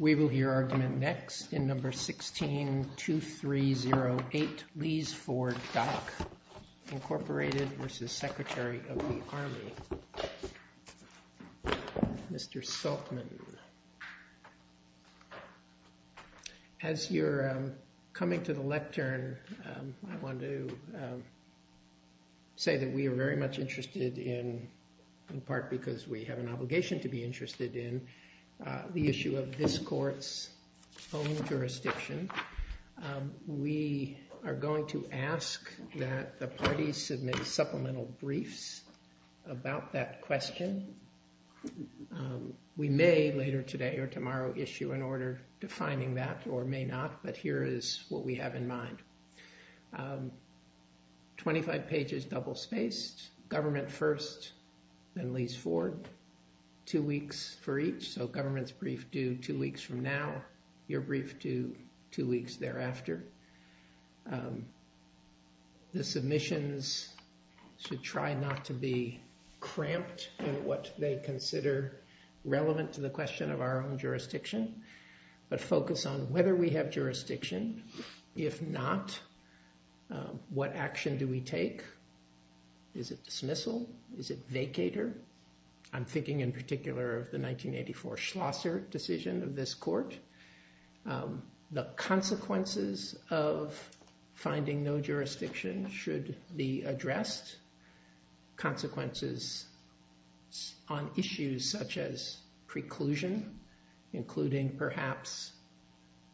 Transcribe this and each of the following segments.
We will hear argument next in No. 16-2308 Lee's Ford Dock, Inc. v. Secretary of the that we are very much interested in, in part because we have an obligation to be interested in, the issue of this Court's own jurisdiction. We are going to ask that the parties submit supplemental briefs about that question. We may later today or tomorrow issue an order defining that, or may not, but here is what we have in mind. Twenty-five pages double-spaced, government first, then Lee's Ford, two weeks for each, so government's brief due two weeks from now, your brief due two weeks thereafter. The submissions should try not to be cramped in what they consider relevant to the question of our own jurisdiction, but focus on whether we have jurisdiction. If not, what action do we take? Is it dismissal? Is it vacater? I'm thinking in particular of the 1984 Schlosser decision of this Court. The consequences of on issues such as preclusion, including perhaps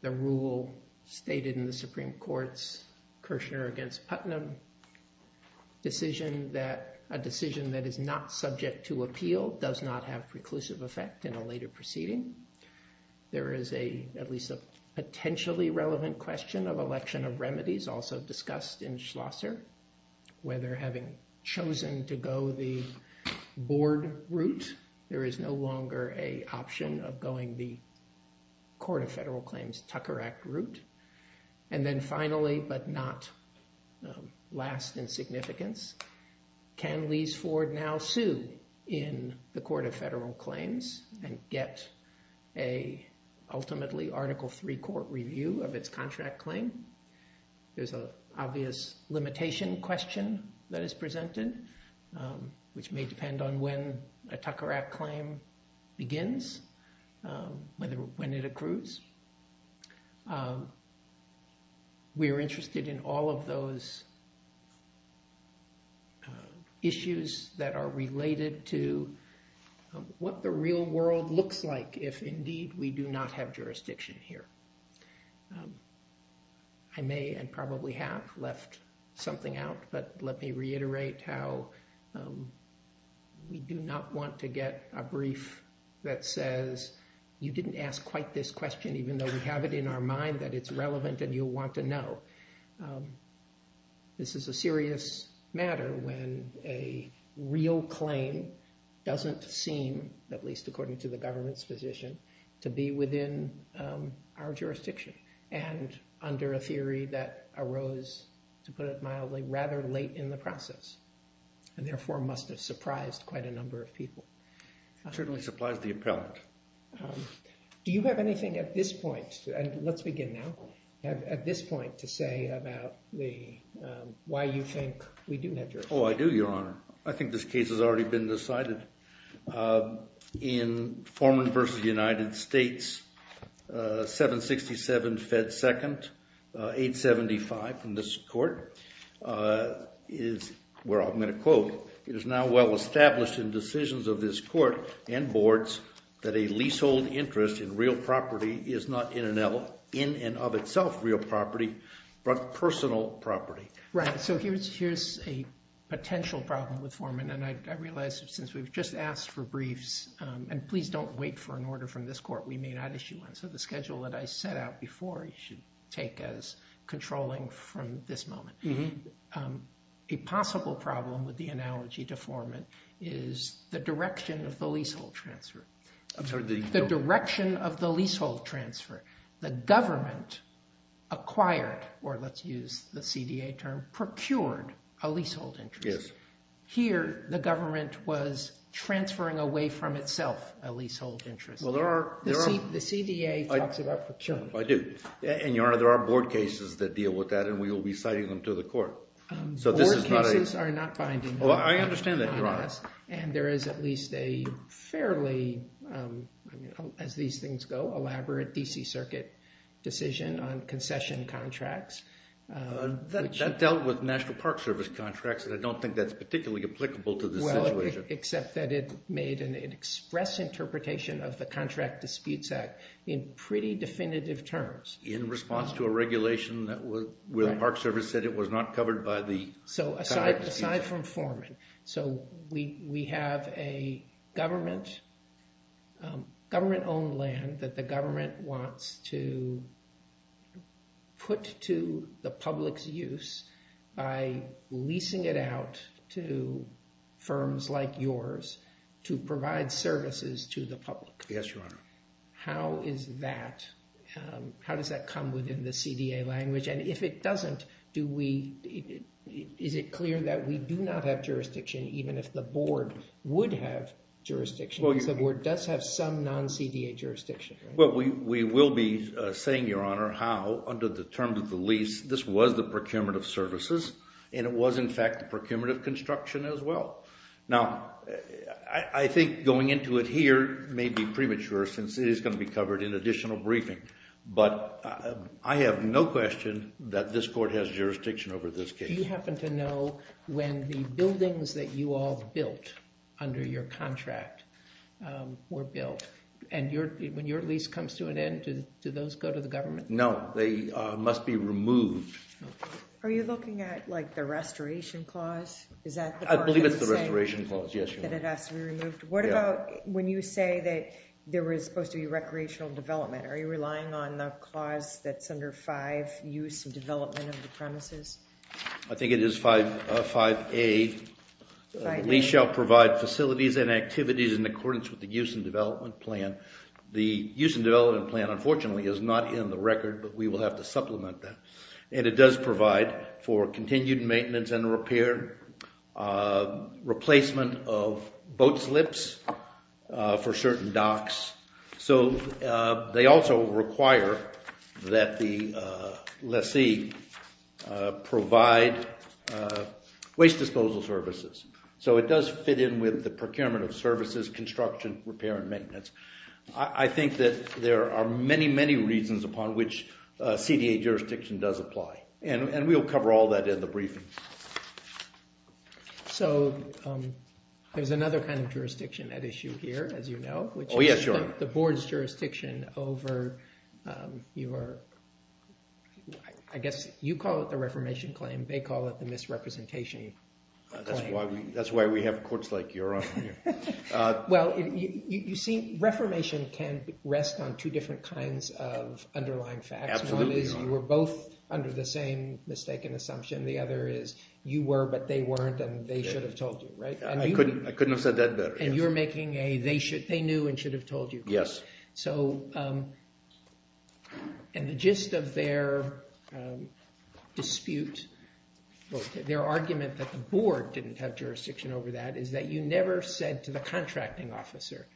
the rule stated in the Supreme Court's Kirchner v. Putnam, a decision that is not subject to appeal does not have preclusive effect in a later proceeding. There is at least a potentially relevant question of election of remedies also discussed in Schlosser, whether having chosen to go the board route, there is no longer an option of going the Court of Federal Claims Tucker Act route. And then finally, but not last in significance, can Lee's Ford now sue in the Court of Federal There's an obvious limitation question that is presented, which may depend on when a Tucker Act claim begins, when it accrues. We are interested in all of those issues that are related to what the real world looks like if indeed we do not have jurisdiction here. I may and probably have left something out, but let me reiterate how we do not want to get a brief that says, you didn't ask quite this question, even though we have it in our mind that it's relevant and you'll want to know. This is a serious matter when a real claim doesn't seem, at least according to the government's position, to be within our jurisdiction and under a theory that arose, to put it mildly, rather late in the process and therefore must have surprised quite a number of people. It certainly supplies the appellant. Do you have anything at this point, and let's begin now, at this point to say about why you think we do have jurisdiction? Oh, I do, Your Honor. I think this case has already been decided. In Foreman v. United States, 767 Fed 2nd, 875 in this court, is where I'm going to quote, it is now well established in decisions of this court and boards that a leasehold interest in real property is not in and of itself real property, but personal property. Right, so here's a potential problem with Foreman, and I realize since we've just asked for briefs, and please don't wait for an order from this court, we may not issue one, so the schedule that I set out before you should take as controlling from this moment. A possible problem with the analogy to Foreman is the direction of the leasehold transfer. The government acquired, or let's use the CDA term, procured a leasehold interest. Here, the government was transferring away from itself a leasehold interest. The CDA talks about procurement. I do, and Your Honor, there are board cases that deal with that, and we will be citing them to the court. Board cases are not binding. I understand that, Your Honor. And there is at least a fairly, as these things go, elaborate D.C. Circuit decision on concession contracts. That dealt with National Park Service contracts, and I don't think that's particularly applicable to this situation. Well, except that it made an express interpretation of the Contract Disputes Act in pretty definitive terms. In response to a regulation where the Park Service said it was not covered by the... So aside from Foreman, so we have a government-owned land that the government wants to put to the public's use by leasing it out to firms like yours to provide services to the public. Yes, Your Honor. How does that come within the CDA language? And if it doesn't, is it clear that we do not have jurisdiction, even if the board would have CDA jurisdiction? Well, we will be saying, Your Honor, how under the terms of the lease, this was the procurement of services, and it was in fact the procurement of construction as well. Now, I think going into it here may be premature since it is going to be covered in additional briefing, but I have no question that this court has jurisdiction over this case. Do you happen to know when the buildings that you all built under your contract were built? And when your lease comes to an end, do those go to the government? No, they must be removed. Are you looking at, like, the restoration clause? I believe it's the restoration clause, yes, Your Honor. What about when you say that there was supposed to be recreational development? Are you relying on the clause that's under 5, use and development of the premises? I think it is 5A. Lease shall provide facilities and activities in accordance with the use and development plan. The use and development plan, unfortunately, is not in the record, but we will have to supplement that. And it does provide for continued maintenance and repair, replacement of boat slips for certain docks. So they also require that the lessee provide waste disposal services. So it does fit in with the procurement of services, construction, repair, and maintenance. I think that there are many, many reasons upon which CDA jurisdiction does apply, and we'll cover all that in the briefing. So there's another kind of jurisdiction at issue here, as you know. Oh, yes, Your Honor. The board's jurisdiction over your, I guess you call it the reformation claim, they call it the misrepresentation claim. That's why we have courts like your own here. Well, you see, reformation can rest on two different kinds of underlying facts. Absolutely, Your Honor. One is you were both under the same mistaken assumption. The other is you were, but they weren't, and they should have told you, right? I couldn't have said that better. And you're making a, they should, they knew and should have told you. Yes. So, and the gist of their dispute, their argument that the board didn't have jurisdiction over that is that you never said to the contracting officer,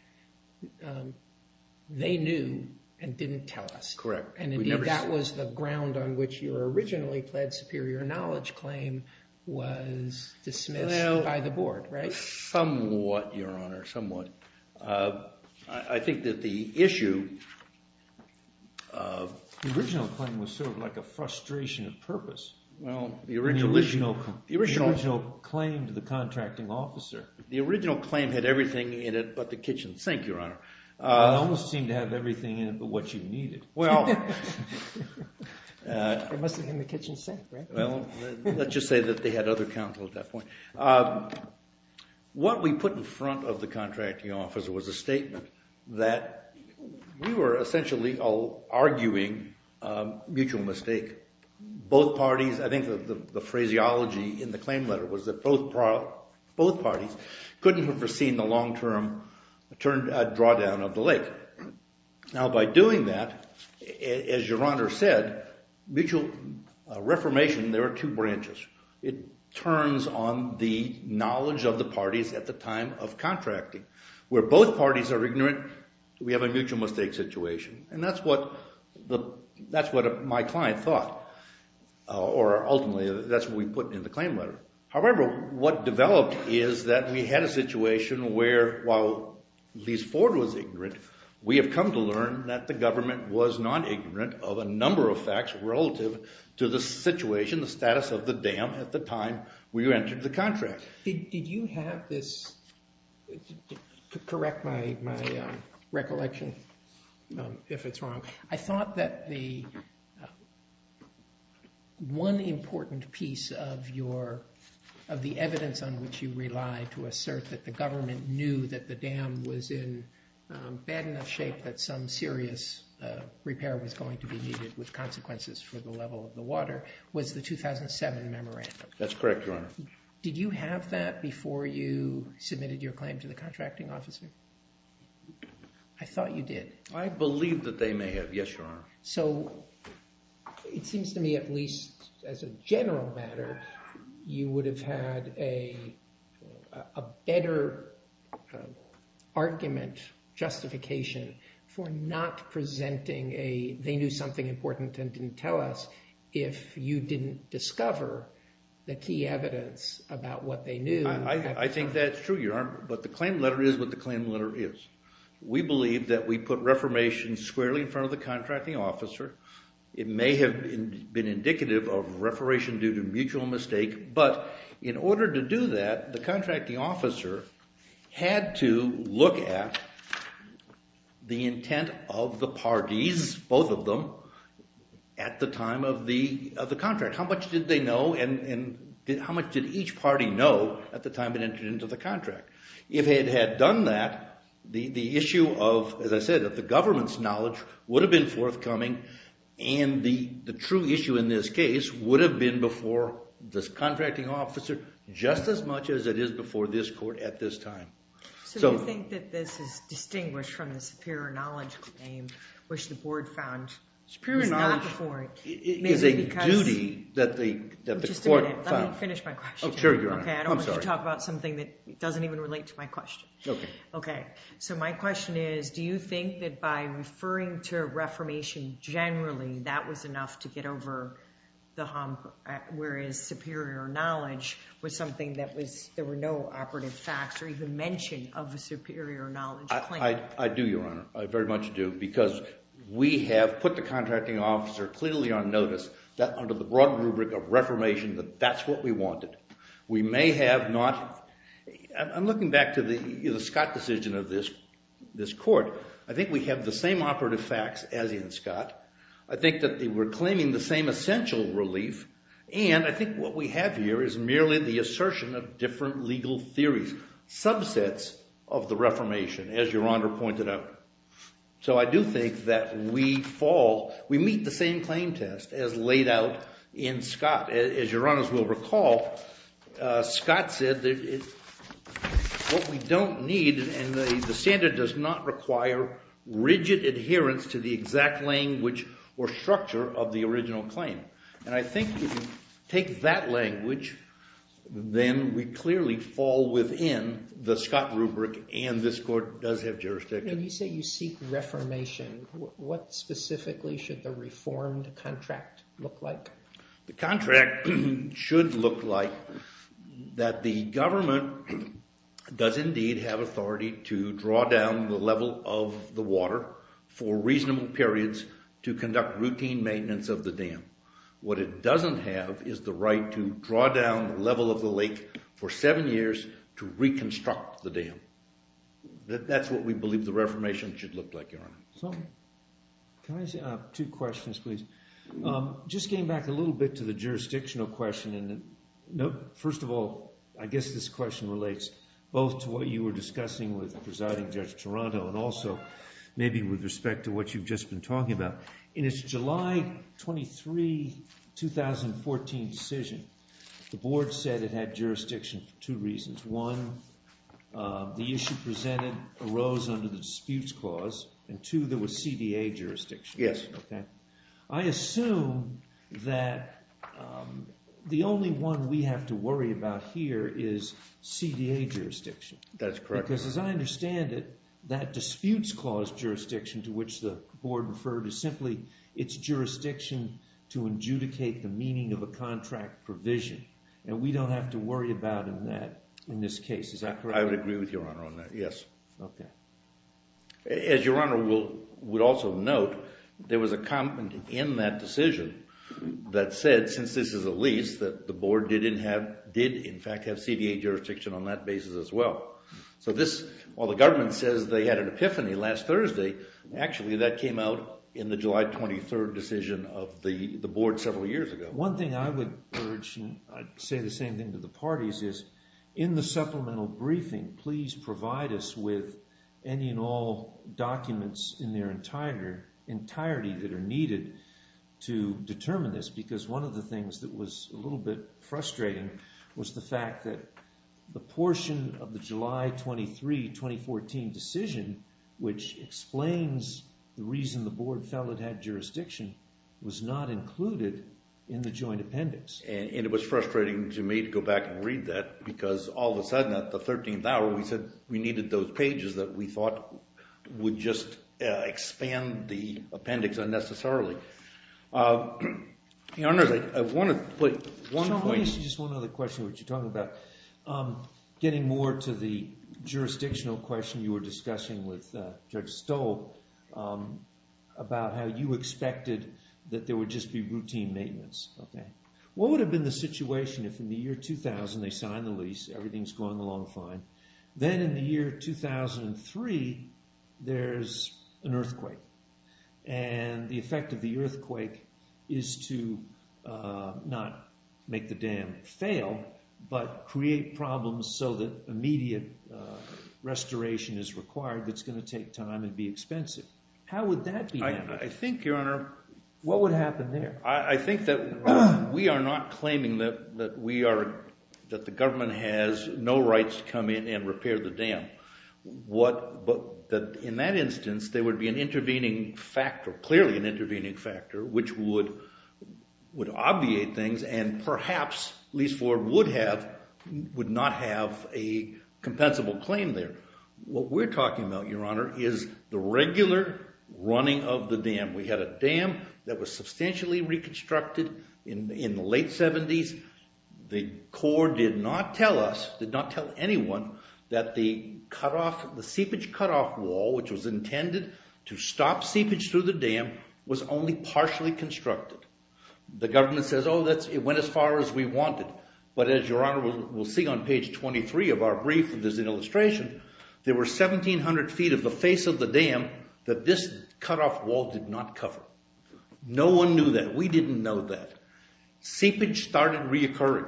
they knew and didn't tell us. Correct. And indeed, that was the ground on which your originally pled superior knowledge claim was dismissed by the board, right? Well, somewhat, Your Honor, somewhat. I think that the issue of... The original claim was sort of like a frustration of purpose. Well, the original... The original claim to the contracting officer. The original claim had everything in it but the kitchen sink, Your Honor. It almost seemed to have everything in it but what you needed. Well... It must have been the kitchen sink, right? Well, let's just say that they had other counsel at that point. What we put in front of the contracting officer was a statement that we were essentially arguing a mutual mistake. Both parties, I think the phraseology in the long-term turned a drawdown of the lake. Now, by doing that, as Your Honor said, mutual reformation, there are two branches. It turns on the knowledge of the parties at the time of contracting. Where both parties are ignorant, we have a mutual mistake situation. And that's what my client thought or ultimately that's what we put in the claim letter. However, what developed is that we had a situation where while Lise Ford was ignorant, we have come to learn that the government was non-ignorant of a number of facts relative to the situation, the status of the dam at the time we entered the contract. Did you have this... Correct my recollection if it's wrong. I thought that the... Of the evidence on which you rely to assert that the government knew that the dam was in bad enough shape that some serious repair was going to be needed with consequences for the level of the water was the 2007 memorandum. That's correct, Your Honor. Did you have that before you submitted your claim to the contracting officer? I thought you did. I believe that they may have. Yes, Your Honor. So it seems to me at least as a general matter, you would have had a better argument justification for not presenting a... They knew something important and didn't tell us if you didn't discover the key evidence about what they knew. I think that's true, Your Honor, but the claim letter is what the claim letter is. We believe that we put reformation squarely in front of the contracting officer. It may have been indicative of reformation due to mutual mistake, but in order to do that, the contracting officer had to look at the intent of the parties, both of them, at the time of the contract. How much did they know and how much did each party know at the time it entered into the contract? If it had done that, the issue of, as I said, of the government's knowledge would have been forthcoming, and the true issue in this case would have been before this contracting officer just as much as it is before this court at this time. So you think that this is distinguished from the superior knowledge claim, which the board found is not before it? Superior knowledge is a duty that the court... Sure, Your Honor. I'm sorry. I don't want to talk about something that doesn't even relate to my question. Okay. Okay. So my question is, do you think that by referring to reformation generally, that was enough to get over the hump, whereas superior knowledge was something that there were no operative facts or even mention of a superior knowledge claim? I do, Your Honor. I very much do, because we have put the contracting officer clearly on notice under the broad rubric of reformation that that's what we wanted. We may have not... I'm looking back to the Scott decision of this court. I think we have the same operative facts as in Scott. I think that we're claiming the same essential relief, and I think what we have here is merely the assertion of different legal theories, subsets of the reformation, as Your Honor pointed out. So I do think that we meet the same claim test as laid out in Scott. As Your Honor will recall, Scott said that what we don't need, and the standard does not require rigid adherence to the exact language or structure of the original claim. And I think if you take that language, then we clearly fall within the Scott rubric, and this court does have jurisdiction. When you say you seek reformation, what specifically should the reformed contract look like? The contract should look like that the government does indeed have authority to draw down the level of the water for reasonable periods to conduct routine maintenance of the dam. What it doesn't have is the right to draw down the level of the lake for seven years to reconstruct the dam. That's what we believe the reformation should look like, Your Honor. Can I say two questions, please? Just getting back a little bit to the jurisdictional question. First of all, I guess this question relates both to what you were discussing with Presiding Judge Toronto, and also maybe with respect to what you've just been talking about. In its July 23, 2014 decision, the board said it had jurisdiction for two reasons. One, the issue presented arose under the disputes clause, and two, there was CDA jurisdiction. Yes. Okay. I assume that the only one we have to worry about here is CDA jurisdiction. That's correct. As I understand it, that disputes clause jurisdiction to which the board referred is simply its jurisdiction to adjudicate the meaning of a contract provision. We don't have to worry about in this case. Is that correct? I would agree with Your Honor on that, yes. As Your Honor would also note, there was a comment in that decision that said, since this is a lease, that the board did in fact have CDA jurisdiction on that basis as well. So this, while the government says they had an epiphany last Thursday, actually that came out in the July 23 decision of the board several years ago. One thing I would urge, and I'd say the same thing to the parties is, in the supplemental briefing, please provide us with any and all documents in their entirety that are needed to determine this. Because one of the things that was a little bit frustrating was the fact that the portion of the July 23, 2014 decision, which explains the reason the board felt it had jurisdiction, was not included in the joint appendix. And it was frustrating to me to go back and read that, because all of a sudden at the 13th hour, we said we needed those pages that we thought would just expand the appendix unnecessarily. Your Honor, I want to put one point... Getting more to the jurisdictional question you were discussing with Judge Stoll about how you expected that there would just be routine maintenance. What would have been the situation if in the year 2000, they signed the lease, everything's going along fine. Then in the year 2003, there's an earthquake. And the effect of the earthquake is to not make the dam fail, but create problems so that immediate restoration is required that's going to take time and be expensive. How would that be handled? I think, Your Honor... What would happen there? I think that we are not claiming that the government has no rights to come in and repair the dam. But in that instance, there would be an intervening factor, clearly an intervening factor, which would obviate things and perhaps lease forward would not have a compensable claim there. What we're talking about, Your Honor, is the regular running of the dam. We had a dam that was substantially reconstructed in the late 70s. The Corps did not tell us, did not tell anyone, that the seepage cutoff wall, which was intended to stop seepage through the dam, was only partially constructed. The government says, oh, it went as far as we wanted. But as Your Honor will see on page 23 of our brief, there's an illustration, there were 1,700 feet of the face of the dam that this cutoff wall did not cover. No one knew that. We didn't know that. Seepage started reoccurring.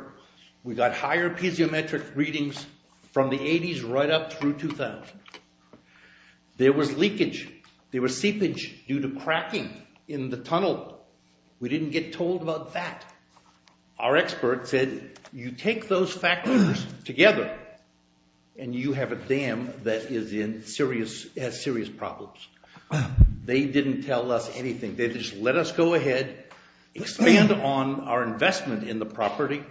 We got higher piezometric readings from the 80s right up through 2000. There was leakage. There was seepage due to cracking in the tunnel. We didn't get told about that. Our experts said, you take those factors together and you have a dam that has serious problems. They didn't tell us anything. They just let us go ahead, expand on our investment in the property,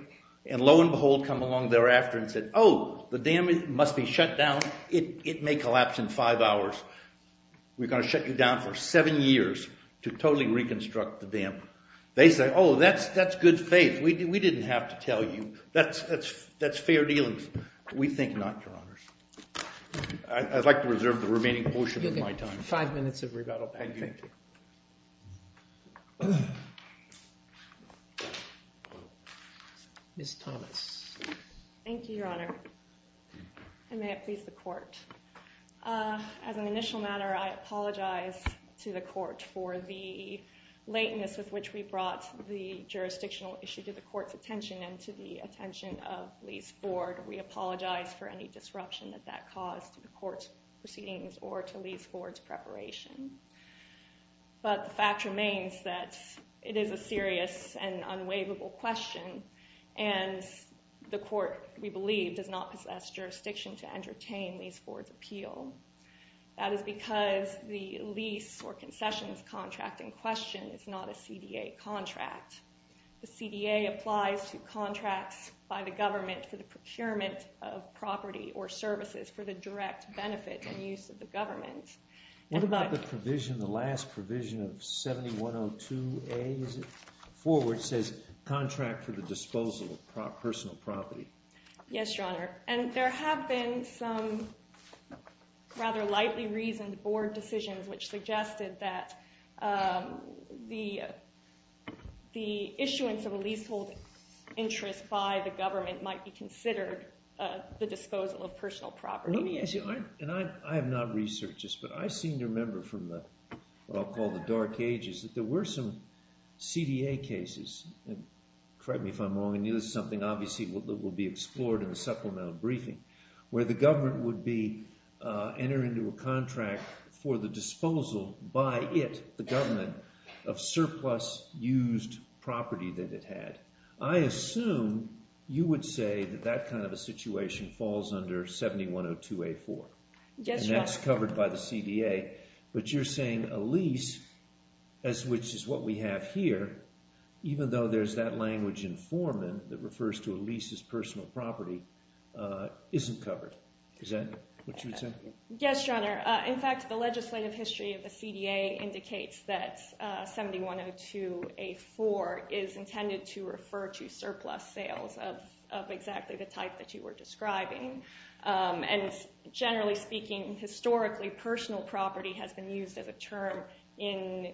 and lo and behold come along thereafter and said, oh, the dam must be shut down. It may collapse in five hours. We're going to shut you down for seven years to totally reconstruct the dam. They say, oh, that's good faith. We didn't have to tell you. That's fair dealings. We think not, Your Honors. I'd like to reserve the remaining portion of my time. You'll get five minutes of rebuttal back. Thank you. Ms. Thomas. Thank you, Your Honor. I may have pleased the court. As an initial matter, I apologize to the court for the lateness with which we brought the jurisdictional issue to the court's attention and to the attention of Lee's board. We apologize for any disruption that that caused the court's proceedings or to Lee's board's preparation. But the fact remains that it is a serious and unwaverable question and the court, we believe, does not possess jurisdiction to entertain Lee's board's appeal. That is because the lease or concessions contract in question is not a CDA contract. The CDA applies to contracts by the government for the procurement of property or services for the direct benefit and use of the government. What about the provision, the last provision of 7102A, is it? Forward says, contract for the disposal of personal property. Yes, Your Honor. And there have been some rather lightly reasoned board decisions which suggested that the issuance of a leasehold interest by the government might be considered the disposal of personal property. And I have not researched this, but I seem to remember from what I'll call the dark ages that there were some CDA cases, correct me if I'm wrong, and this is something obviously that will be explored in the supplemental briefing, where the government would enter into a contract for disposal by it, the government, of surplus used property that it had. I assume you would say that that kind of a situation falls under 7102A4. Yes, Your Honor. And that's covered by the CDA, but you're saying a lease, as which is what we have here, even though there's that language in Foreman that refers to a lease as personal property, isn't covered. Is that what you would Yes, Your Honor. In fact, the legislative history of the CDA indicates that 7102A4 is intended to refer to surplus sales of exactly the type that you were describing. And generally speaking, historically, personal property has been used as a term in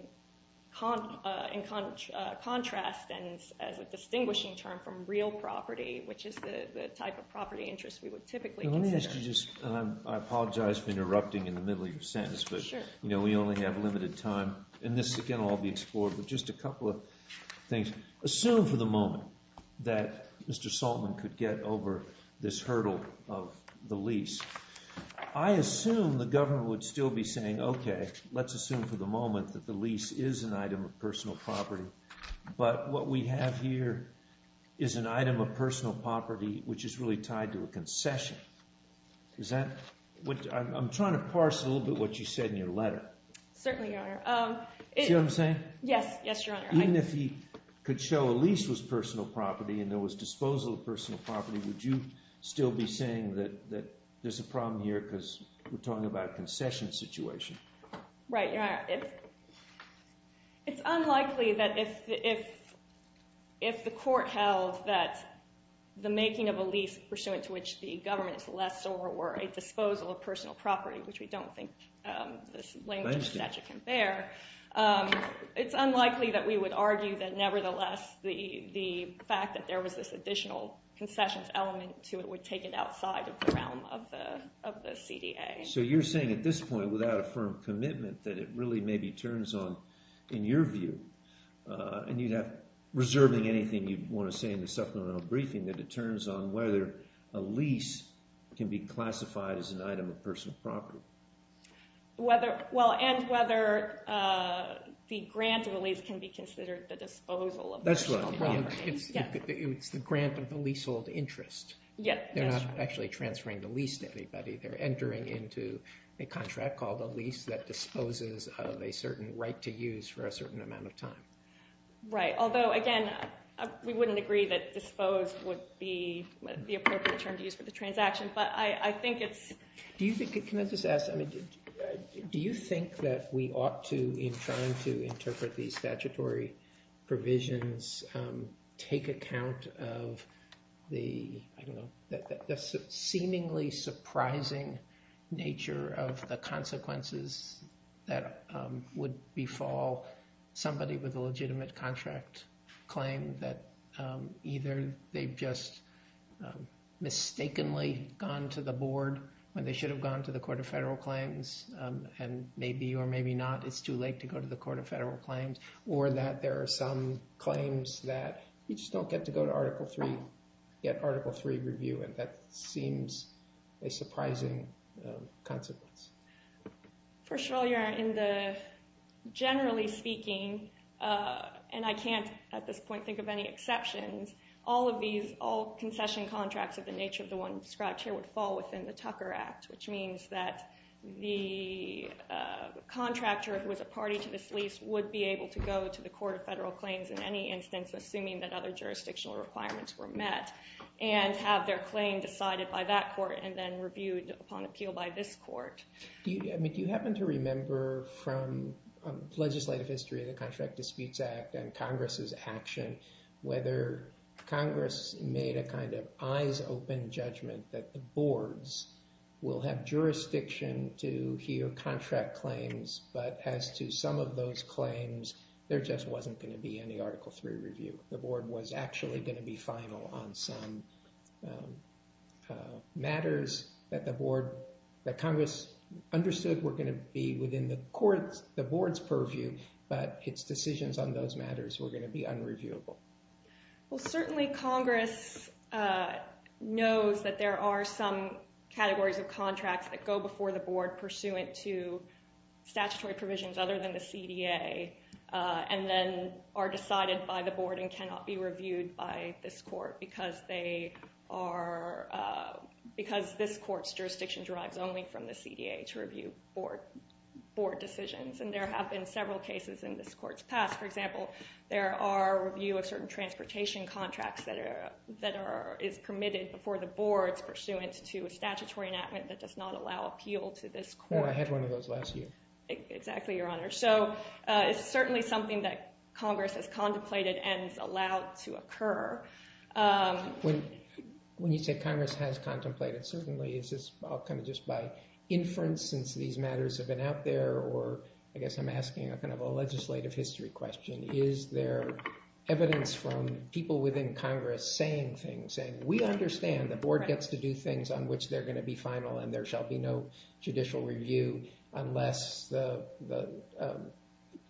contrast and as a distinguishing term from real property, which is the type of property interest we would typically consider. Let me ask you just, and I apologize for interrupting in the middle of your sentence, but you know, we only have limited time, and this again will all be explored, but just a couple of things. Assume for the moment that Mr. Saltman could get over this hurdle of the lease. I assume the government would still be saying, okay, let's assume for the moment that the lease is an item of personal property, but what we have here is an item of personal property which is really tied to a concession. I'm trying to parse a little bit what you said in your letter. Certainly, Your Honor. See what I'm saying? Yes, Your Honor. Even if he could show a lease was personal property and there was disposal of personal property, would you still be saying that there's a problem here because we're talking about a concession situation? Right, Your Honor. It's unlikely that if the court held that the making of a lease pursuant to which the government is less or a disposal of personal property, which we don't think this language of statute can bear, it's unlikely that we would argue that nevertheless the fact that there was this additional concessions element to it would take it outside of the realm of the CDA. So you're saying at this point without a firm commitment that it really maybe turns on, in your view, and you'd have reserving anything you'd want to say in the supplemental briefing, that it turns on whether a lease can be classified as an item of personal property. Whether, well, and whether the grant release can be considered the disposal of personal property. That's right. It's the grant of the leasehold interest. They're not actually transferring the lease to anybody. They're entering into a contract called a lease that disposes of a certain right to use for a certain amount of time. Right. Although, again, we wouldn't agree that disposed would be the appropriate term to use for the transaction. But I think it's... Can I just ask, do you think that we ought to, in trying to interpret these statutory provisions, take account of the, I don't know, the seemingly surprising nature of the consequences that would befall somebody with a legitimate contract claim that either they've just mistakenly gone to the board when they should have gone to the Court of Federal Claims, and maybe or maybe not it's too late to go to the Court of Federal Claims, or that there are some claims that you just don't get to go to Article III, get Article III review, and that seems a surprising consequence? First of all, you're in the, generally speaking, and I can't at this point think of any exceptions, all of these, all concession contracts of the nature of the one described here would fall within the Tucker Act, which means that the contractor who is a party to this lease would be able to go to the Court of Federal Claims in any instance, assuming that other jurisdictional requirements were met, and have their claim decided by that court and then reviewed upon appeal by this court. Do you, I mean, do you happen to remember from legislative history of the Contract Disputes Act and Congress's action whether Congress made a kind of eyes-open judgment that the boards will have jurisdiction to hear contract claims, but as to some of those claims, there just wasn't going to be any Article III review. The board was actually going to be final on some matters that the board, that Congress understood were going to be within the court's, the board's purview, but its decisions on those matters were going to be unreviewable. Well, certainly Congress knows that there are some categories of contracts that go before the board pursuant to statutory provisions other than the CDA, and then are decided by the board and cannot be reviewed by this court because they are, because this court's jurisdiction derives only from the CDA to review board decisions, and there have been several cases in this court's there are review of certain transportation contracts that are, that are, is permitted before the board's pursuant to a statutory enactment that does not allow appeal to this court. I had one of those last year. Exactly, Your Honor. So it's certainly something that Congress has contemplated and is allowed to occur. When, when you say Congress has contemplated, certainly is this all kind of just by inference since these matters have been out there, or I guess I'm asking a kind of a legislative history question. Is there evidence from people within Congress saying things, saying we understand the board gets to do things on which they're going to be final and there shall be no judicial review unless the, the,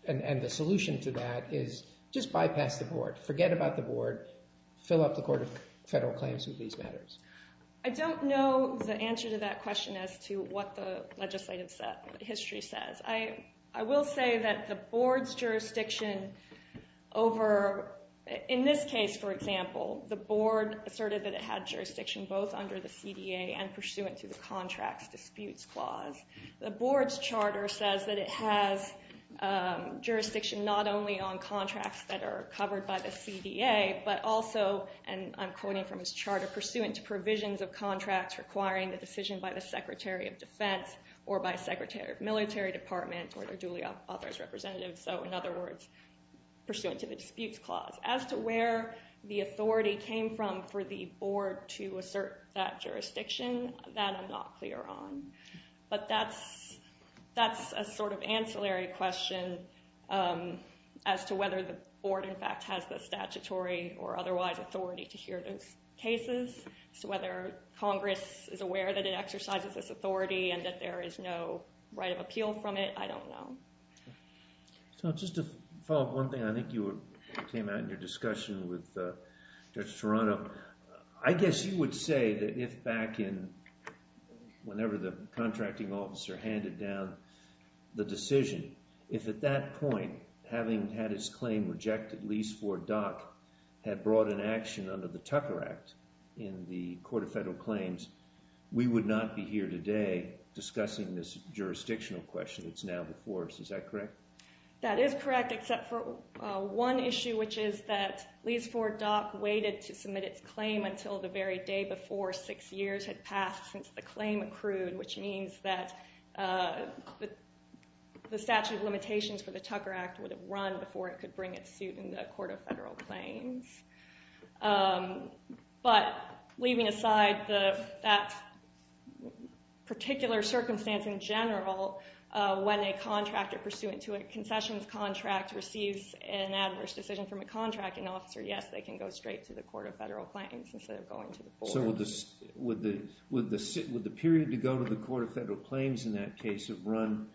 and, and the solution to that is just bypass the board, forget about the board, fill up the Court of Federal Claims with these matters. I don't know the answer to that question as to what the legislative set, history says. I, I will say that the board's jurisdiction over, in this case for example, the board asserted that it had jurisdiction both under the CDA and pursuant to the Contracts Disputes Clause. The board's charter says that it has jurisdiction not only on contracts that are covered by the CDA but also, and I'm quoting from his charter, pursuant to provisions of contracts requiring the decision by the Secretary of Defense or by Secretary of Military Department or their duly author's representative. So in other words, pursuant to the Disputes Clause. As to where the authority came from for the board to assert that jurisdiction, that I'm not clear on. But that's, that's a sort of ancillary question as to whether the board in fact has the statutory or otherwise authority to hear those cases. So whether Congress is aware that it exercises this authority and that there is no right of appeal from it, I don't know. So just to follow up one thing, I think you came out in your discussion with Judge Toronto. I guess you would say that if back in, whenever the contracting officer handed down the decision, if at that point, having had his claim rejected, Lees-Ford Dock had brought an action under the Tucker Act in the Court of Federal Claims, we would not be here today discussing this jurisdictional question that's now before us. Is that correct? That is correct, except for one issue, which is that Lees-Ford Dock waited to submit its claim until the very day before six years had passed since the claim accrued, which means that the statute of limitations for the Tucker Act would have run before it could bring its suit in the Court of Federal Claims. But leaving aside that particular circumstance in general, when a contractor pursuant to a concessions contract receives an adverse decision from a contracting officer, yes, they can go straight to the Court of Federal Claims instead of going to the board. So would the period to go to the Court of Federal Claims in that case have run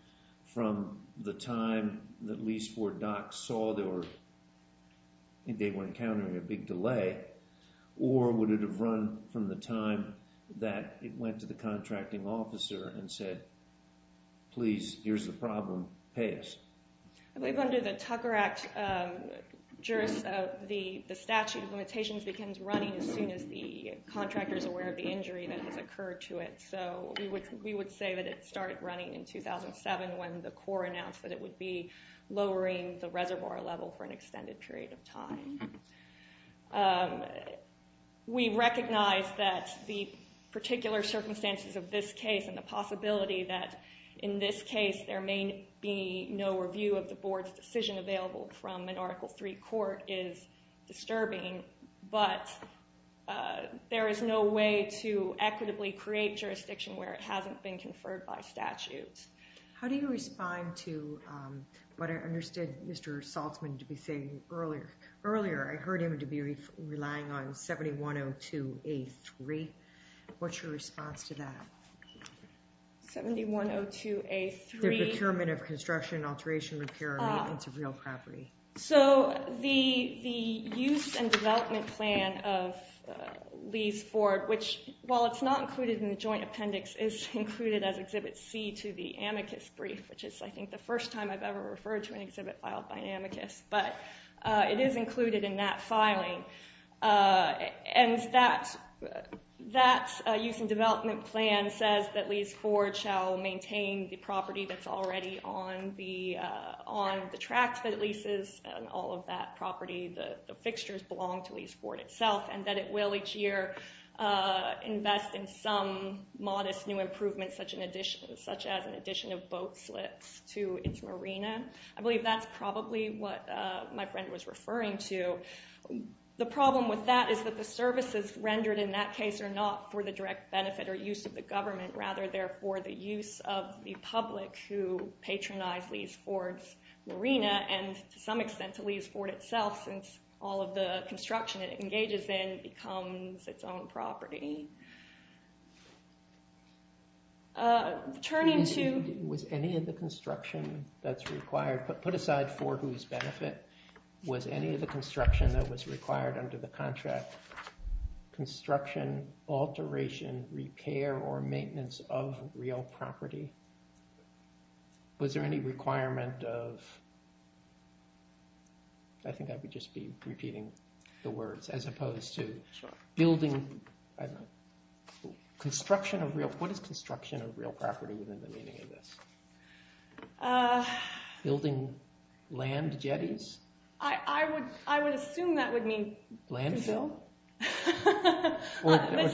from the time that Lees-Ford Dock saw they were encountering a big delay, or would it have run from the time that it went to the contracting officer and said, please, here's the problem, pay us? I believe under the Tucker Act, the statute of limitations begins running as soon as the contractor is aware of the injury that has occurred to it. So we would say that it started running in 2007 when the court announced that it would be lowering the reservoir level for an extended period of time. We recognize that the particular circumstances of this case and the possibility that in this case there may be no review of the board's decision available from an attorney, but there is no way to equitably create jurisdiction where it hasn't been conferred by statutes. How do you respond to what I understood Mr. Saltzman to be saying earlier? Earlier I heard him to be relying on 7102A3. What's your response to that? 7102A3? The procurement of construction, alteration, repair, and maintenance of real property. So the use and development plan of Lease-Ford, which while it's not included in the joint appendix, is included as Exhibit C to the amicus brief, which is I think the first time I've ever referred to an exhibit filed by an amicus, but it is included in that filing. And that use and development plan says that Lease-Ford shall maintain the property that's already on the tract that leases and all of that property, the fixtures belong to Lease-Ford itself, and that it will each year invest in some modest new improvements such as an addition of boat slits to its marina. I believe that's probably what my friend was referring to. The problem with that is that the services rendered in that case are not for the direct benefit or use of the government, rather they're for the use of the public who patronize Lease-Ford's marina and to some extent to Lease-Ford itself, since all of the construction it engages in becomes its own property. Turning to... Was any of the construction that's required, but put aside for whose benefit, was any of the construction that was required under the contract construction, alteration, repair, or maintenance of real property? Was there any requirement of... I think I would just be repeating the words, as opposed to building... Construction of real... What is construction of real property within the meaning of this? Building land jetties? I would assume that would mean... Landfill? This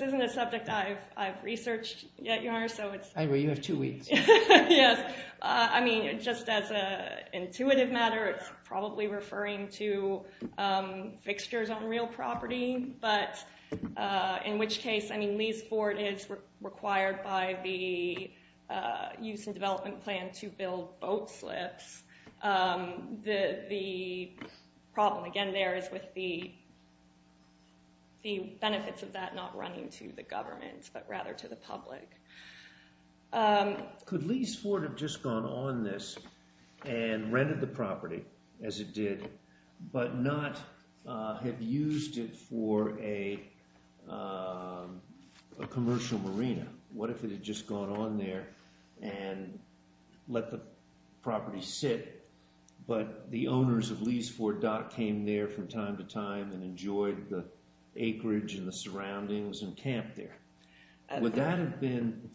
isn't a subject I've researched yet, Your Honor, so it's... You have two weeks. Yes, I mean, just as an intuitive matter, it's probably referring to fixtures on real property, but in which case, I mean, Lease-Ford is required by the Use and Development Plan to build boat slips. The problem, again, there is with the benefits of that not running to the government, but rather to the public. Could Lease-Ford have just gone on this and rented the property as it did, but not have used it for a commercial marina? What if it had just gone on there and let the property sit, but the owners of Lease-Ford came there from time to time and enjoyed the acreage and the surroundings and camped there? Would that have been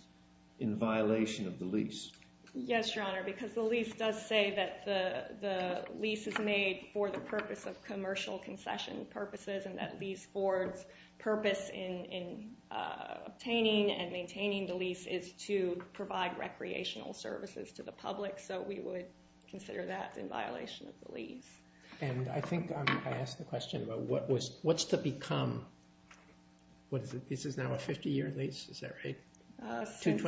in violation of the lease? Yes, Your Honor, because the lease does say that the lease is made for the purpose of commercial concession purposes and that Lease-Ford's purpose in obtaining and maintaining the lease is to provide recreational services to the public, so we would consider that in violation of the lease. And I think I asked the question about what's to become... What is it? This is now a 50-year lease, is that right? Since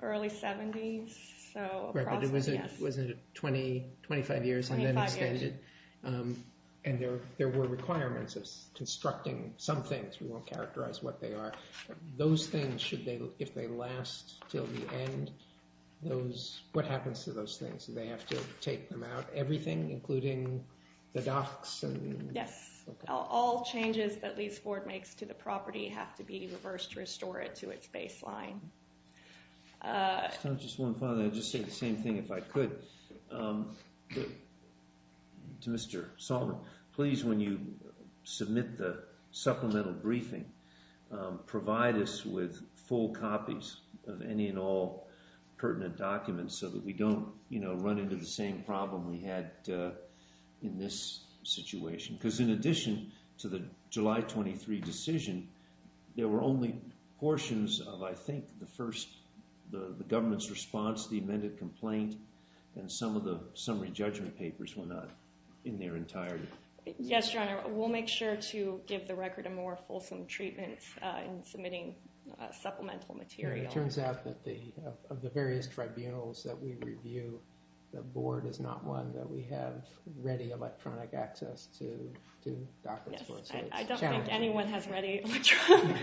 early 70s, so... Was it 20, 25 years? 25 years. And there were requirements of constructing some things, we won't characterize what they are. Those things, should they, if they last till the end, those, what happens to those things? Do they have to take them out? Everything, including the docks? Yes, all changes that Lease-Ford makes to the property have to be reversed to restore it to its baseline. Just one final thing, I'd just say the same thing if I could to Mr. Solomon. Please, when you submit the supplemental briefing, provide us with full copies of any and all pertinent documents so that we don't, you know, run into the same problem we had in this situation. Because in addition to the July 23 decision, there were only portions of, I think, the first, the government's response, the amended complaint, and some of the summary judgment papers were not in their entirety. Yes, Your Honor, we'll make sure to give the record a more fulsome treatment in submitting supplemental material. It turns out that of the various tribunals that we review, the board is not one that we have ready electronic access to. I don't think anyone has ready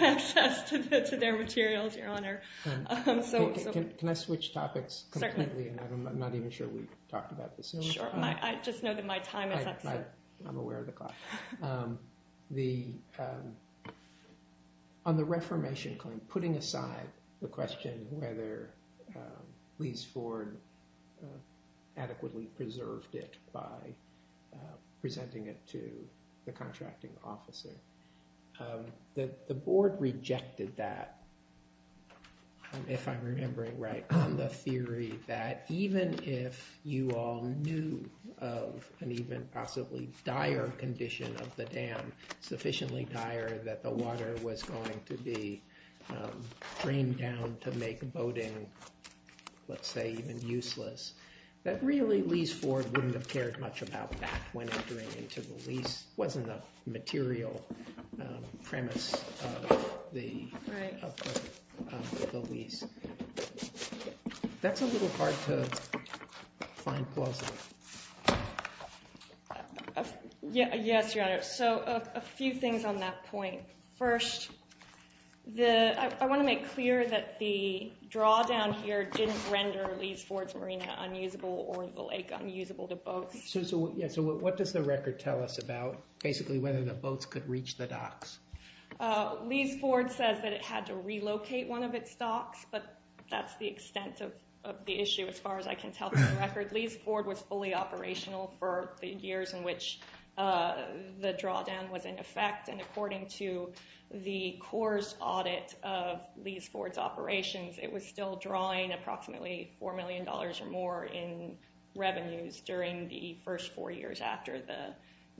access to their materials, Your Honor. Can I switch topics? Certainly. I'm not even sure we've talked about this. Sure, I just know that my time is up. I'm aware of the clock. On the reformation claim, putting aside the question whether Lee's Ford adequately preserved it by presenting it to the contracting officer, the board rejected that, if I'm remembering right, on the theory that even if you all knew of an even possibly dire condition of the dam, sufficiently dire that the water was going to be drained down to make boating, let's say, even useless, that really Lee's Ford wouldn't have cared much about that when entering into the lease. It wasn't a material premise of the lease. That's a little hard to find plausible. Yes, Your Honor, so a few things on that point. First, I want to make clear that the drawdown here didn't render Lee's Ford's marina unusable or the lake unusable to boats. So what does the record tell us about basically whether the boats could reach the docks? Lee's Ford says that it had to relocate one of its docks, but that's the extent of the issue, as far as I can tell from the record. Lee's Ford was fully operational for the years in which the drawdown was in effect, and according to the Corps' audit of Lee's Ford's operations, it was still drawing approximately four million dollars or more in revenues during the first four years after the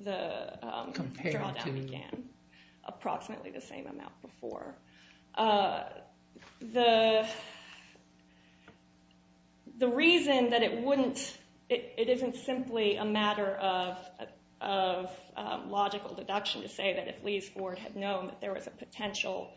drawdown began, approximately the same amount before. The reason that it isn't simply a matter of logical deduction to say that if Lee's Ford had known that there was a potential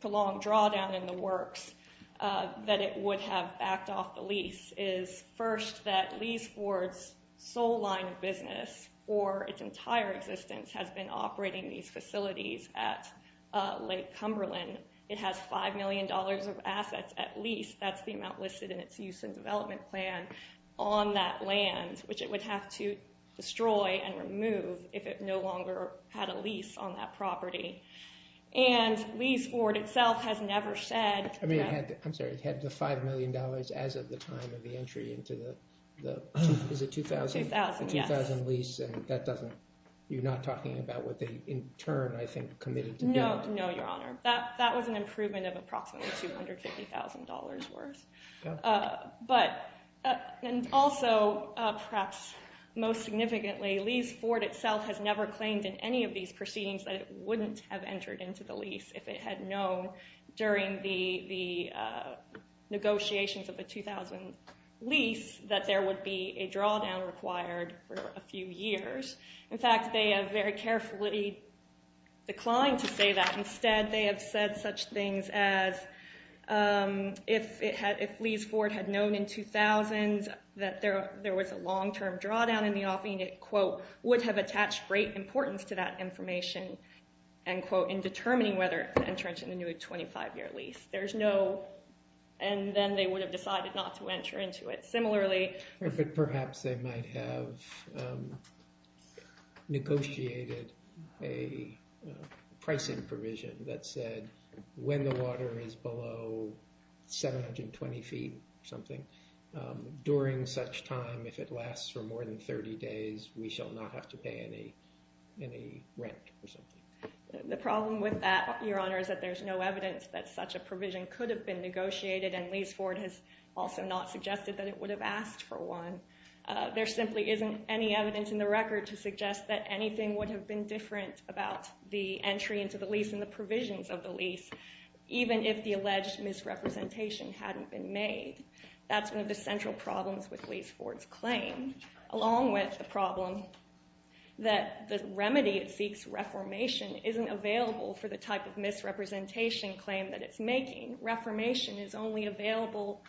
prolonged drawdown in the works, that it would have backed off the lease is, first, that Lee's Ford's sole line of business for its entire existence has been operating these Cumberland. It has five million dollars of assets at lease, that's the amount listed in its use and development plan, on that land, which it would have to destroy and remove if it no longer had a lease on that property. And Lee's Ford itself has never said... I'm sorry, it had the five million dollars as of the time of the entry into the 2000 lease, and you're not talking about what in turn, I think, committed to build? No, your honor, that was an improvement of approximately 250,000 dollars worth. And also, perhaps most significantly, Lee's Ford itself has never claimed in any of these proceedings that it wouldn't have entered into the lease if it had known during the negotiations of the 2000 lease that there would be a drawdown required for a few years. They declined to say that. Instead, they have said such things as, if Lee's Ford had known in 2000 that there was a long-term drawdown in the offing, it, quote, would have attached great importance to that information, end quote, in determining whether to enter into the new 25-year lease. There's no... and then they would have decided not to enter into it. Similarly... Perhaps they might have negotiated a pricing provision that said when the water is below 720 feet or something, during such time, if it lasts for more than 30 days, we shall not have to pay any rent or something. The problem with that, your honor, is that there's no evidence that such a provision could have been negotiated, and Lee's Ford has also not suggested that it would have asked for one. There simply isn't any evidence in the record to suggest that anything would have been different about the entry into the lease and the provisions of the lease, even if the alleged misrepresentation hadn't been made. That's one of the central problems with Lee's Ford's claim, along with the problem that the remedy it seeks, reformation, isn't available for the type of misrepresentation claim that it's making. Reformation is only available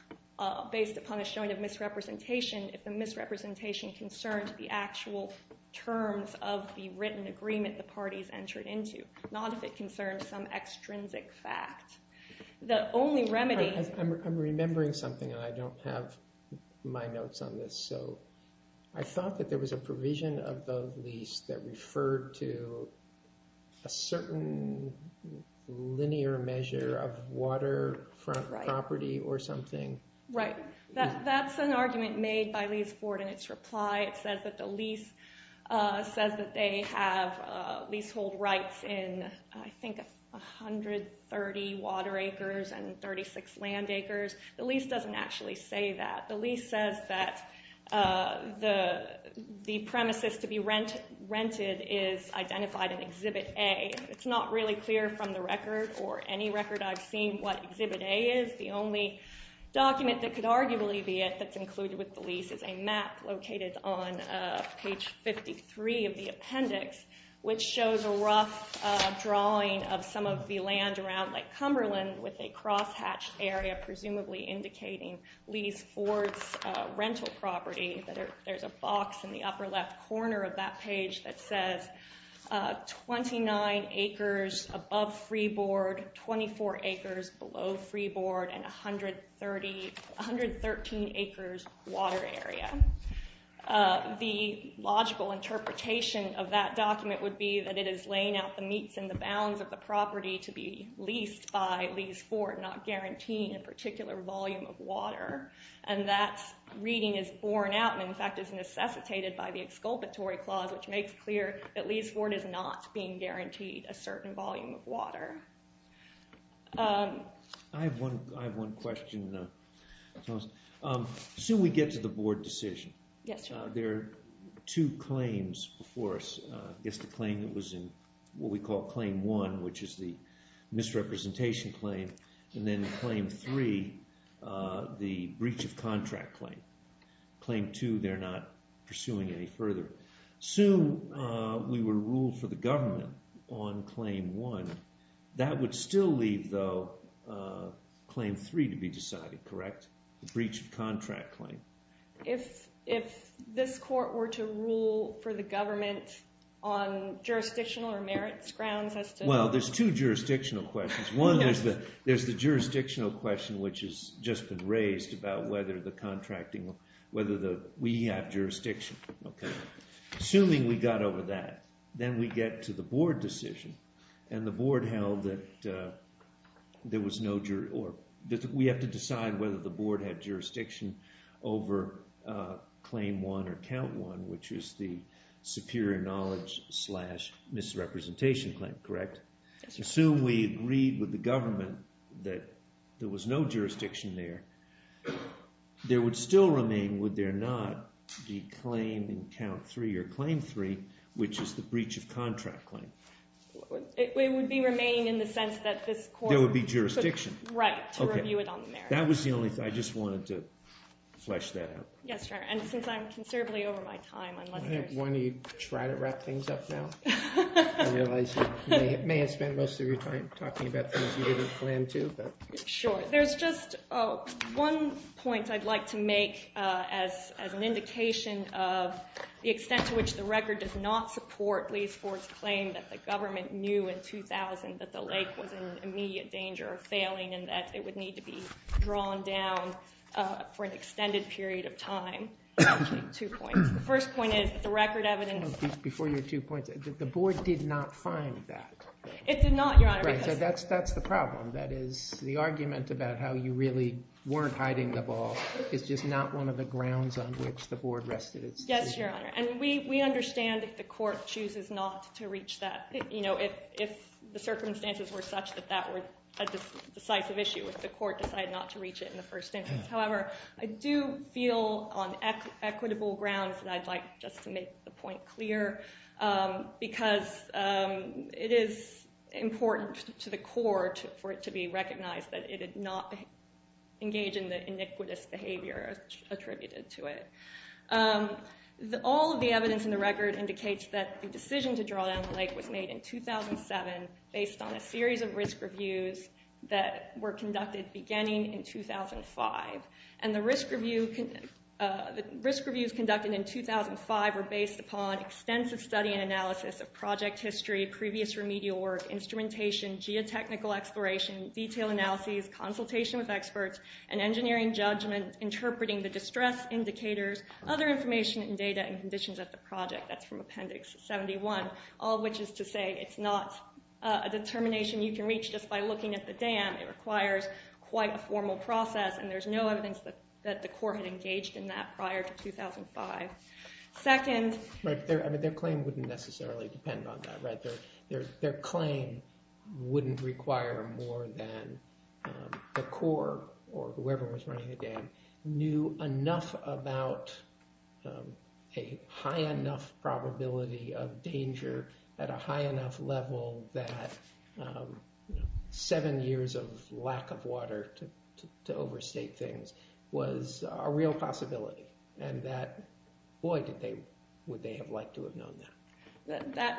based upon a misrepresentation, if the misrepresentation concerns the actual terms of the written agreement the parties entered into, not if it concerns some extrinsic fact. The only remedy... I'm remembering something and I don't have my notes on this, so I thought that there was a provision of the lease that referred to a certain linear measure of water front property or something. Right, that's an argument made by Lee's Ford in its reply. It says that the lease says that they have leasehold rights in I think 130 water acres and 36 land acres. The lease doesn't actually say that. The lease says that the premises to be rented is identified in Exhibit A. It's not really clear from the record, or any record I've seen, what Exhibit A is. The only document that could arguably be it that's included with the lease is a map located on page 53 of the appendix, which shows a rough drawing of some of the land around Lake Cumberland with a cross-hatched area, presumably indicating Lee's Ford's rental property. There's a box in the upper left corner of that page that 29 acres above freeboard, 24 acres below freeboard, and 113 acres water area. The logical interpretation of that document would be that it is laying out the meets and the bounds of the property to be leased by Lee's Ford, not guaranteeing a particular volume of water. And that reading is borne out and in fact is necessitated by the exculpatory clause, which makes clear that Lee's Ford is not being guaranteed a certain volume of water. I have one question. Soon we get to the board decision. There are two claims before us. I guess the claim that was in what we call Claim 1, which is the misrepresentation claim, and then Claim 3, the breach of contract claim. Claim 2, they're not pursuing any further. Soon we were ruled for the government on Claim 1. That would still leave, though, Claim 3 to be decided, correct? The breach of contract claim. If this court were to rule for the government on jurisdictional or merits grounds as to... Well, there's two jurisdictional questions. There's the jurisdictional question, which has just been raised about whether the contracting, whether we have jurisdiction. Assuming we got over that, then we get to the board decision. We have to decide whether the board had jurisdiction over Claim 1 or Count 1, which is the superior knowledge slash misrepresentation claim, correct? Assume we agreed with the government that there was no jurisdiction there. There would still remain, would there not, the claim in Count 3 or Claim 3, which is the breach of contract claim? It would remain in the sense that this court... There would be jurisdiction. Right, to review it on the merits. That was the only thing. I just wanted to flesh that out. Yes, sir. And since I'm considerably over my time, unless there's... Why don't you try to wrap things up now? I realize you may have spent most of your time talking about things you didn't plan to, but... Sure. There's just one point I'd like to make as an indication of the extent to which the record does not support Lee's court's claim that the government knew in 2000 that the lake was in immediate danger of failing and that it would need to be drawn down for an extended period of time. Two points. The first point is that the record evidence... Before your two points, the board did not find that. It did not, Your Honor. Right, so that's the problem. That is, the argument about how you really weren't hiding the ball is just not one of the grounds on which the board rested its decision. Yes, Your Honor. And we understand if the court chooses not to reach that. If the circumstances were such that that were a decisive issue, if the court decided not to reach it in the first instance. However, I do feel on equitable grounds that I'd like just to make the point clear because it is important to the court for it to be recognized that it did not engage in the iniquitous behavior attributed to it. All of the evidence in the record indicates that the decision to draw down the lake was made in 2007 based on a series of risk reviews that were conducted. And the risk reviews conducted in 2005 were based upon extensive study and analysis of project history, previous remedial work, instrumentation, geotechnical exploration, detail analyses, consultation with experts, and engineering judgment interpreting the distress indicators, other information and data, and conditions of the project. That's from Appendix 71, all of which is to say it's not a determination you can reach just by looking at the dam. It there's no evidence that the court had engaged in that prior to 2005. Second, their claim wouldn't necessarily depend on that. Their claim wouldn't require more than the court or whoever was running the dam knew enough about a high enough probability of danger at a high enough level that seven years of lack of water to overstate things was a real possibility and that boy would they have liked to have known that.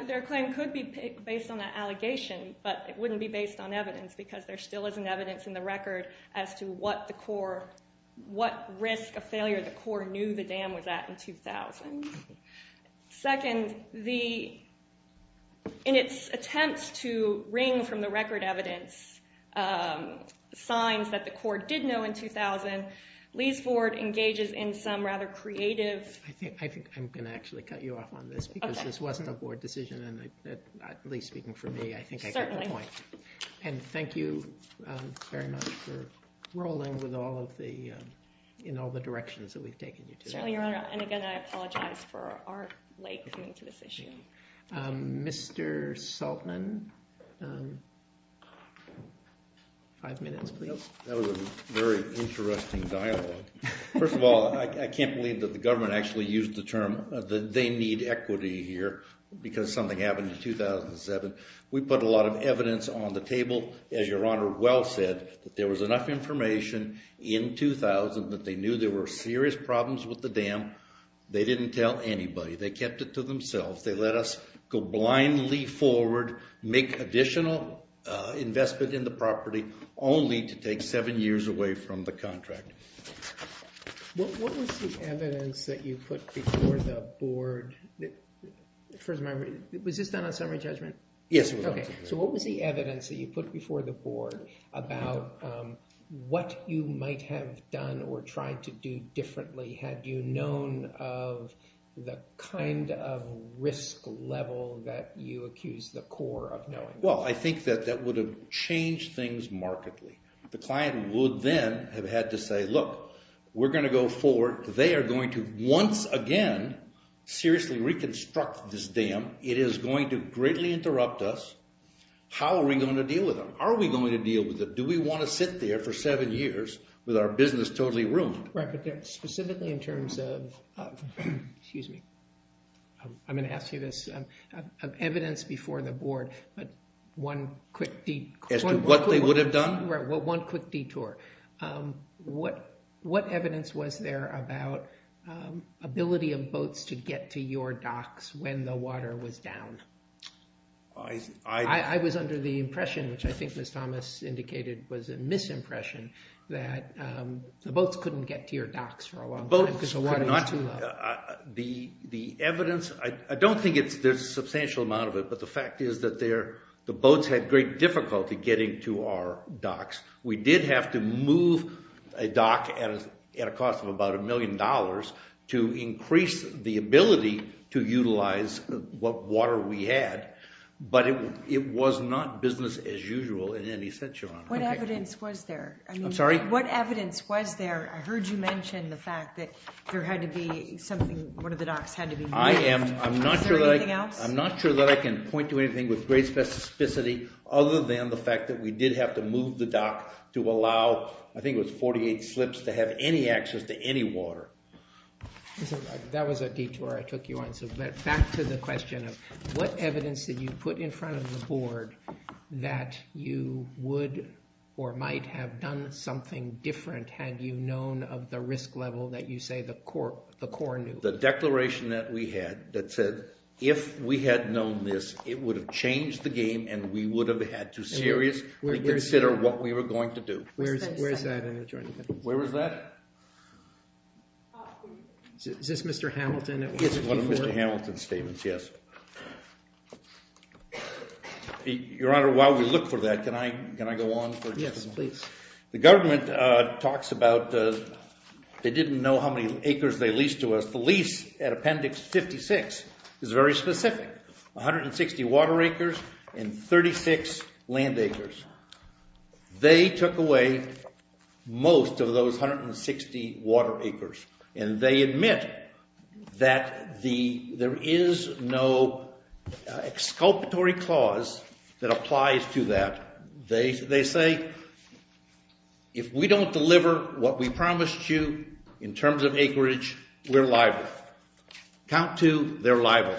Their claim could be based on that allegation but it wouldn't be based on evidence because there still isn't evidence in the record as to what risk of failure the court knew the dam was at in 2000. Second, in its attempts to wring from the record evidence signs that the court did know in 2000, Lee's board engages in some rather creative... I think I'm going to actually cut you off on this because this wasn't a board decision and at least speaking for me, I think I get the point. And thank you very much for rolling in all the directions that we've taken you to. And again, I apologize for our late coming to this issue. Mr. Saltman, five minutes please. That was a very interesting dialogue. First of all, I can't believe that the government actually used the term that they need equity here because something happened in 2007. We put a lot of evidence on the table, as your honor well said, that there was enough information in 2000 that they knew there were serious problems with the dam. They didn't tell anybody. They kept it to themselves. They let us go blindly forward, make additional investment in the property only to take seven years away from the contract. What was the evidence that you put before the board? First of all, was this done on summary might have done or tried to do differently? Had you known of the kind of risk level that you accuse the core of knowing? Well, I think that that would have changed things markedly. The client would then have had to say, look, we're going to go forward. They are going to once again seriously reconstruct this dam. It is going to greatly interrupt us. How are we going to deal with them? Are we going to deal with them? Do we want to sit there for seven years with our business totally ruined? Right, but specifically in terms of, excuse me, I'm going to ask you this, of evidence before the board, but one quick detour. As to what they would have done? Right, well, one quick detour. What evidence was there about ability of boats to get to your docks when the water was down? I was under the impression, which I think Ms. Thomas indicated was a misimpression, that the boats couldn't get to your docks for a long time because the water was too low. The evidence, I don't think there's a substantial amount of it, but the fact is that the boats had great difficulty getting to our docks. We did have to move a dock at a cost of about a million dollars to increase the ability to utilize what water we had, but it was not business as usual in any sense, Your Honor. What evidence was there? I'm sorry? What evidence was there? I heard you mention the fact that there had to be something, one of the docks had to be moved. I am, I'm not sure that I can point to anything with great specificity other than the fact that we did have to move the dock to allow, I think it was 48 slips, to have any access to any water. That was a detour, I took you on, so back to the question of what evidence did you put in front of the board that you would or might have done something different had you known of the risk level that you say the court, the court knew? The declaration that we had that said if we had known this, it would have changed the game and we would have had to seriously consider what we Is this Mr. Hamilton? Yes, one of Mr. Hamilton's statements, yes. Your Honor, while we look for that, can I go on for just a moment? Yes, please. The government talks about, they didn't know how many acres they leased to us. The lease at Appendix 56 is very specific, 160 water acres and 36 land acres. They took away most of those 160 water acres and they admit that there is no exculpatory clause that applies to that. They say if we don't deliver what we promised you in terms of acreage, we're liable. Count two, they're liable.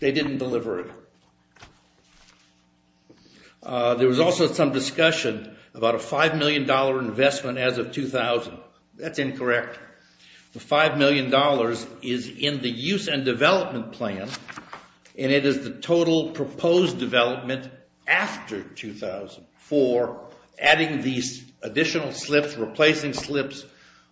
They didn't deliver it. There was also some discussion about a $5 million investment as of 2000. That's incorrect. The $5 million is in the use and development plan and it is the total proposed development after 2004, adding these additional slips, replacing slips,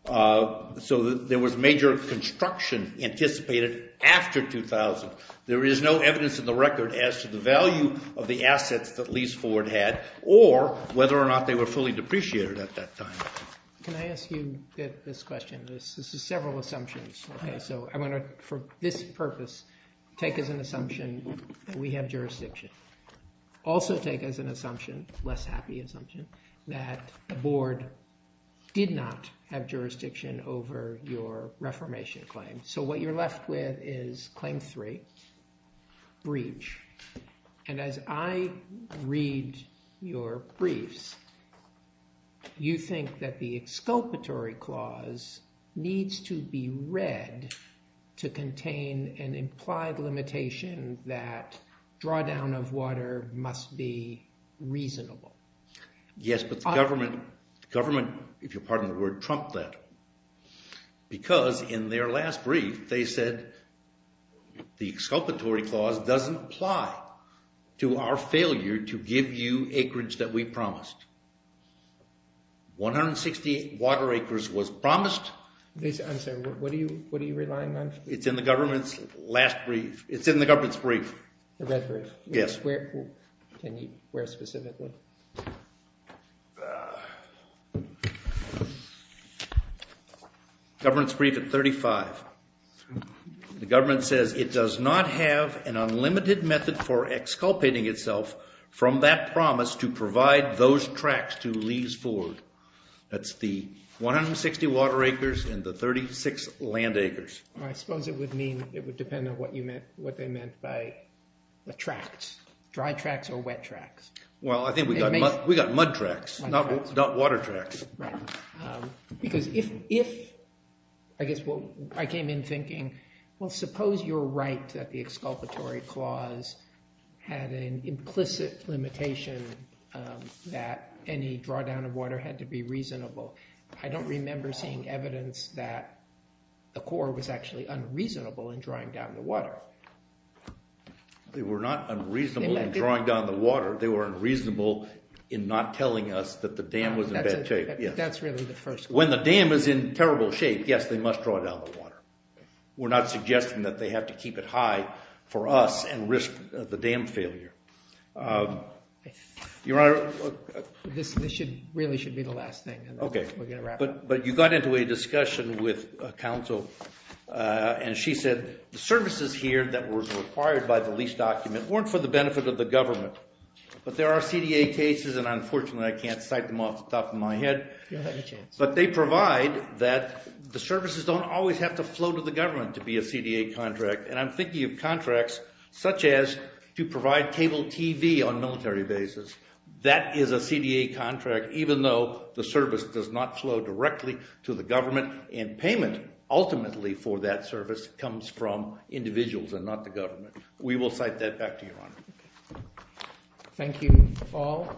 so there was major construction anticipated after 2000. There is no evidence in the record as to the value of the assets that Lease Forward had or whether or not they were fully depreciated at that time. Can I ask you this question? This is several assumptions, so I want to, for this purpose, take as an assumption that we have jurisdiction. Also take as an assumption, less happy assumption, that the board did not have jurisdiction over your reformation claim. So what you're left with is claim three, breach. And as I read your briefs, you think that the exculpatory clause needs to be read to contain an implied limitation that drawdown of water must be Yes, but the government, if you'll pardon the word, trumped that. Because in their last brief, they said, the exculpatory clause doesn't apply to our failure to give you acreage that we promised. 160 water acres was promised. I'm sorry, what are you relying on? It's in the government's last brief. It's in the government's brief. The red brief? Yes. Can you read it specifically? Government's brief at 35. The government says it does not have an unlimited method for exculpating itself from that promise to provide those tracts to Lease Forward. That's the 160 water acres and the 36 land acres. I suppose it would mean, it would depend on what you meant, what they meant by the tracts, dry tracts or wet tracts. Well, I think we got mud tracts, not water tracts. Because if, I guess what I came in thinking, well, suppose you're right that the exculpatory clause had an implicit limitation that any drawdown of water had to be reasonable. I don't remember seeing evidence that the Corps was actually unreasonable in drawing down the water. They were not unreasonable in drawing down the water. They were unreasonable in not telling us that the dam was in bad shape. That's really the first. When the dam is in terrible shape, yes, they must draw down the water. We're not suggesting that they have to keep it high for us and risk the dam failure. Your Honor, this really should be the last thing. Okay, but you got into a discussion with counsel and she said the services here that was required by the lease document weren't for the benefit of the government. But there are CDA cases and unfortunately I can't cite them off the top of my head. But they provide that the services don't always have to flow to the government to be a CDA contract. And I'm thinking of contracts such as to provide cable TV on military bases. That is a CDA contract even though the service does not flow directly to the government. And payment ultimately for that service comes from individuals and not the government. We will cite that back to Your Honor. Thank you all.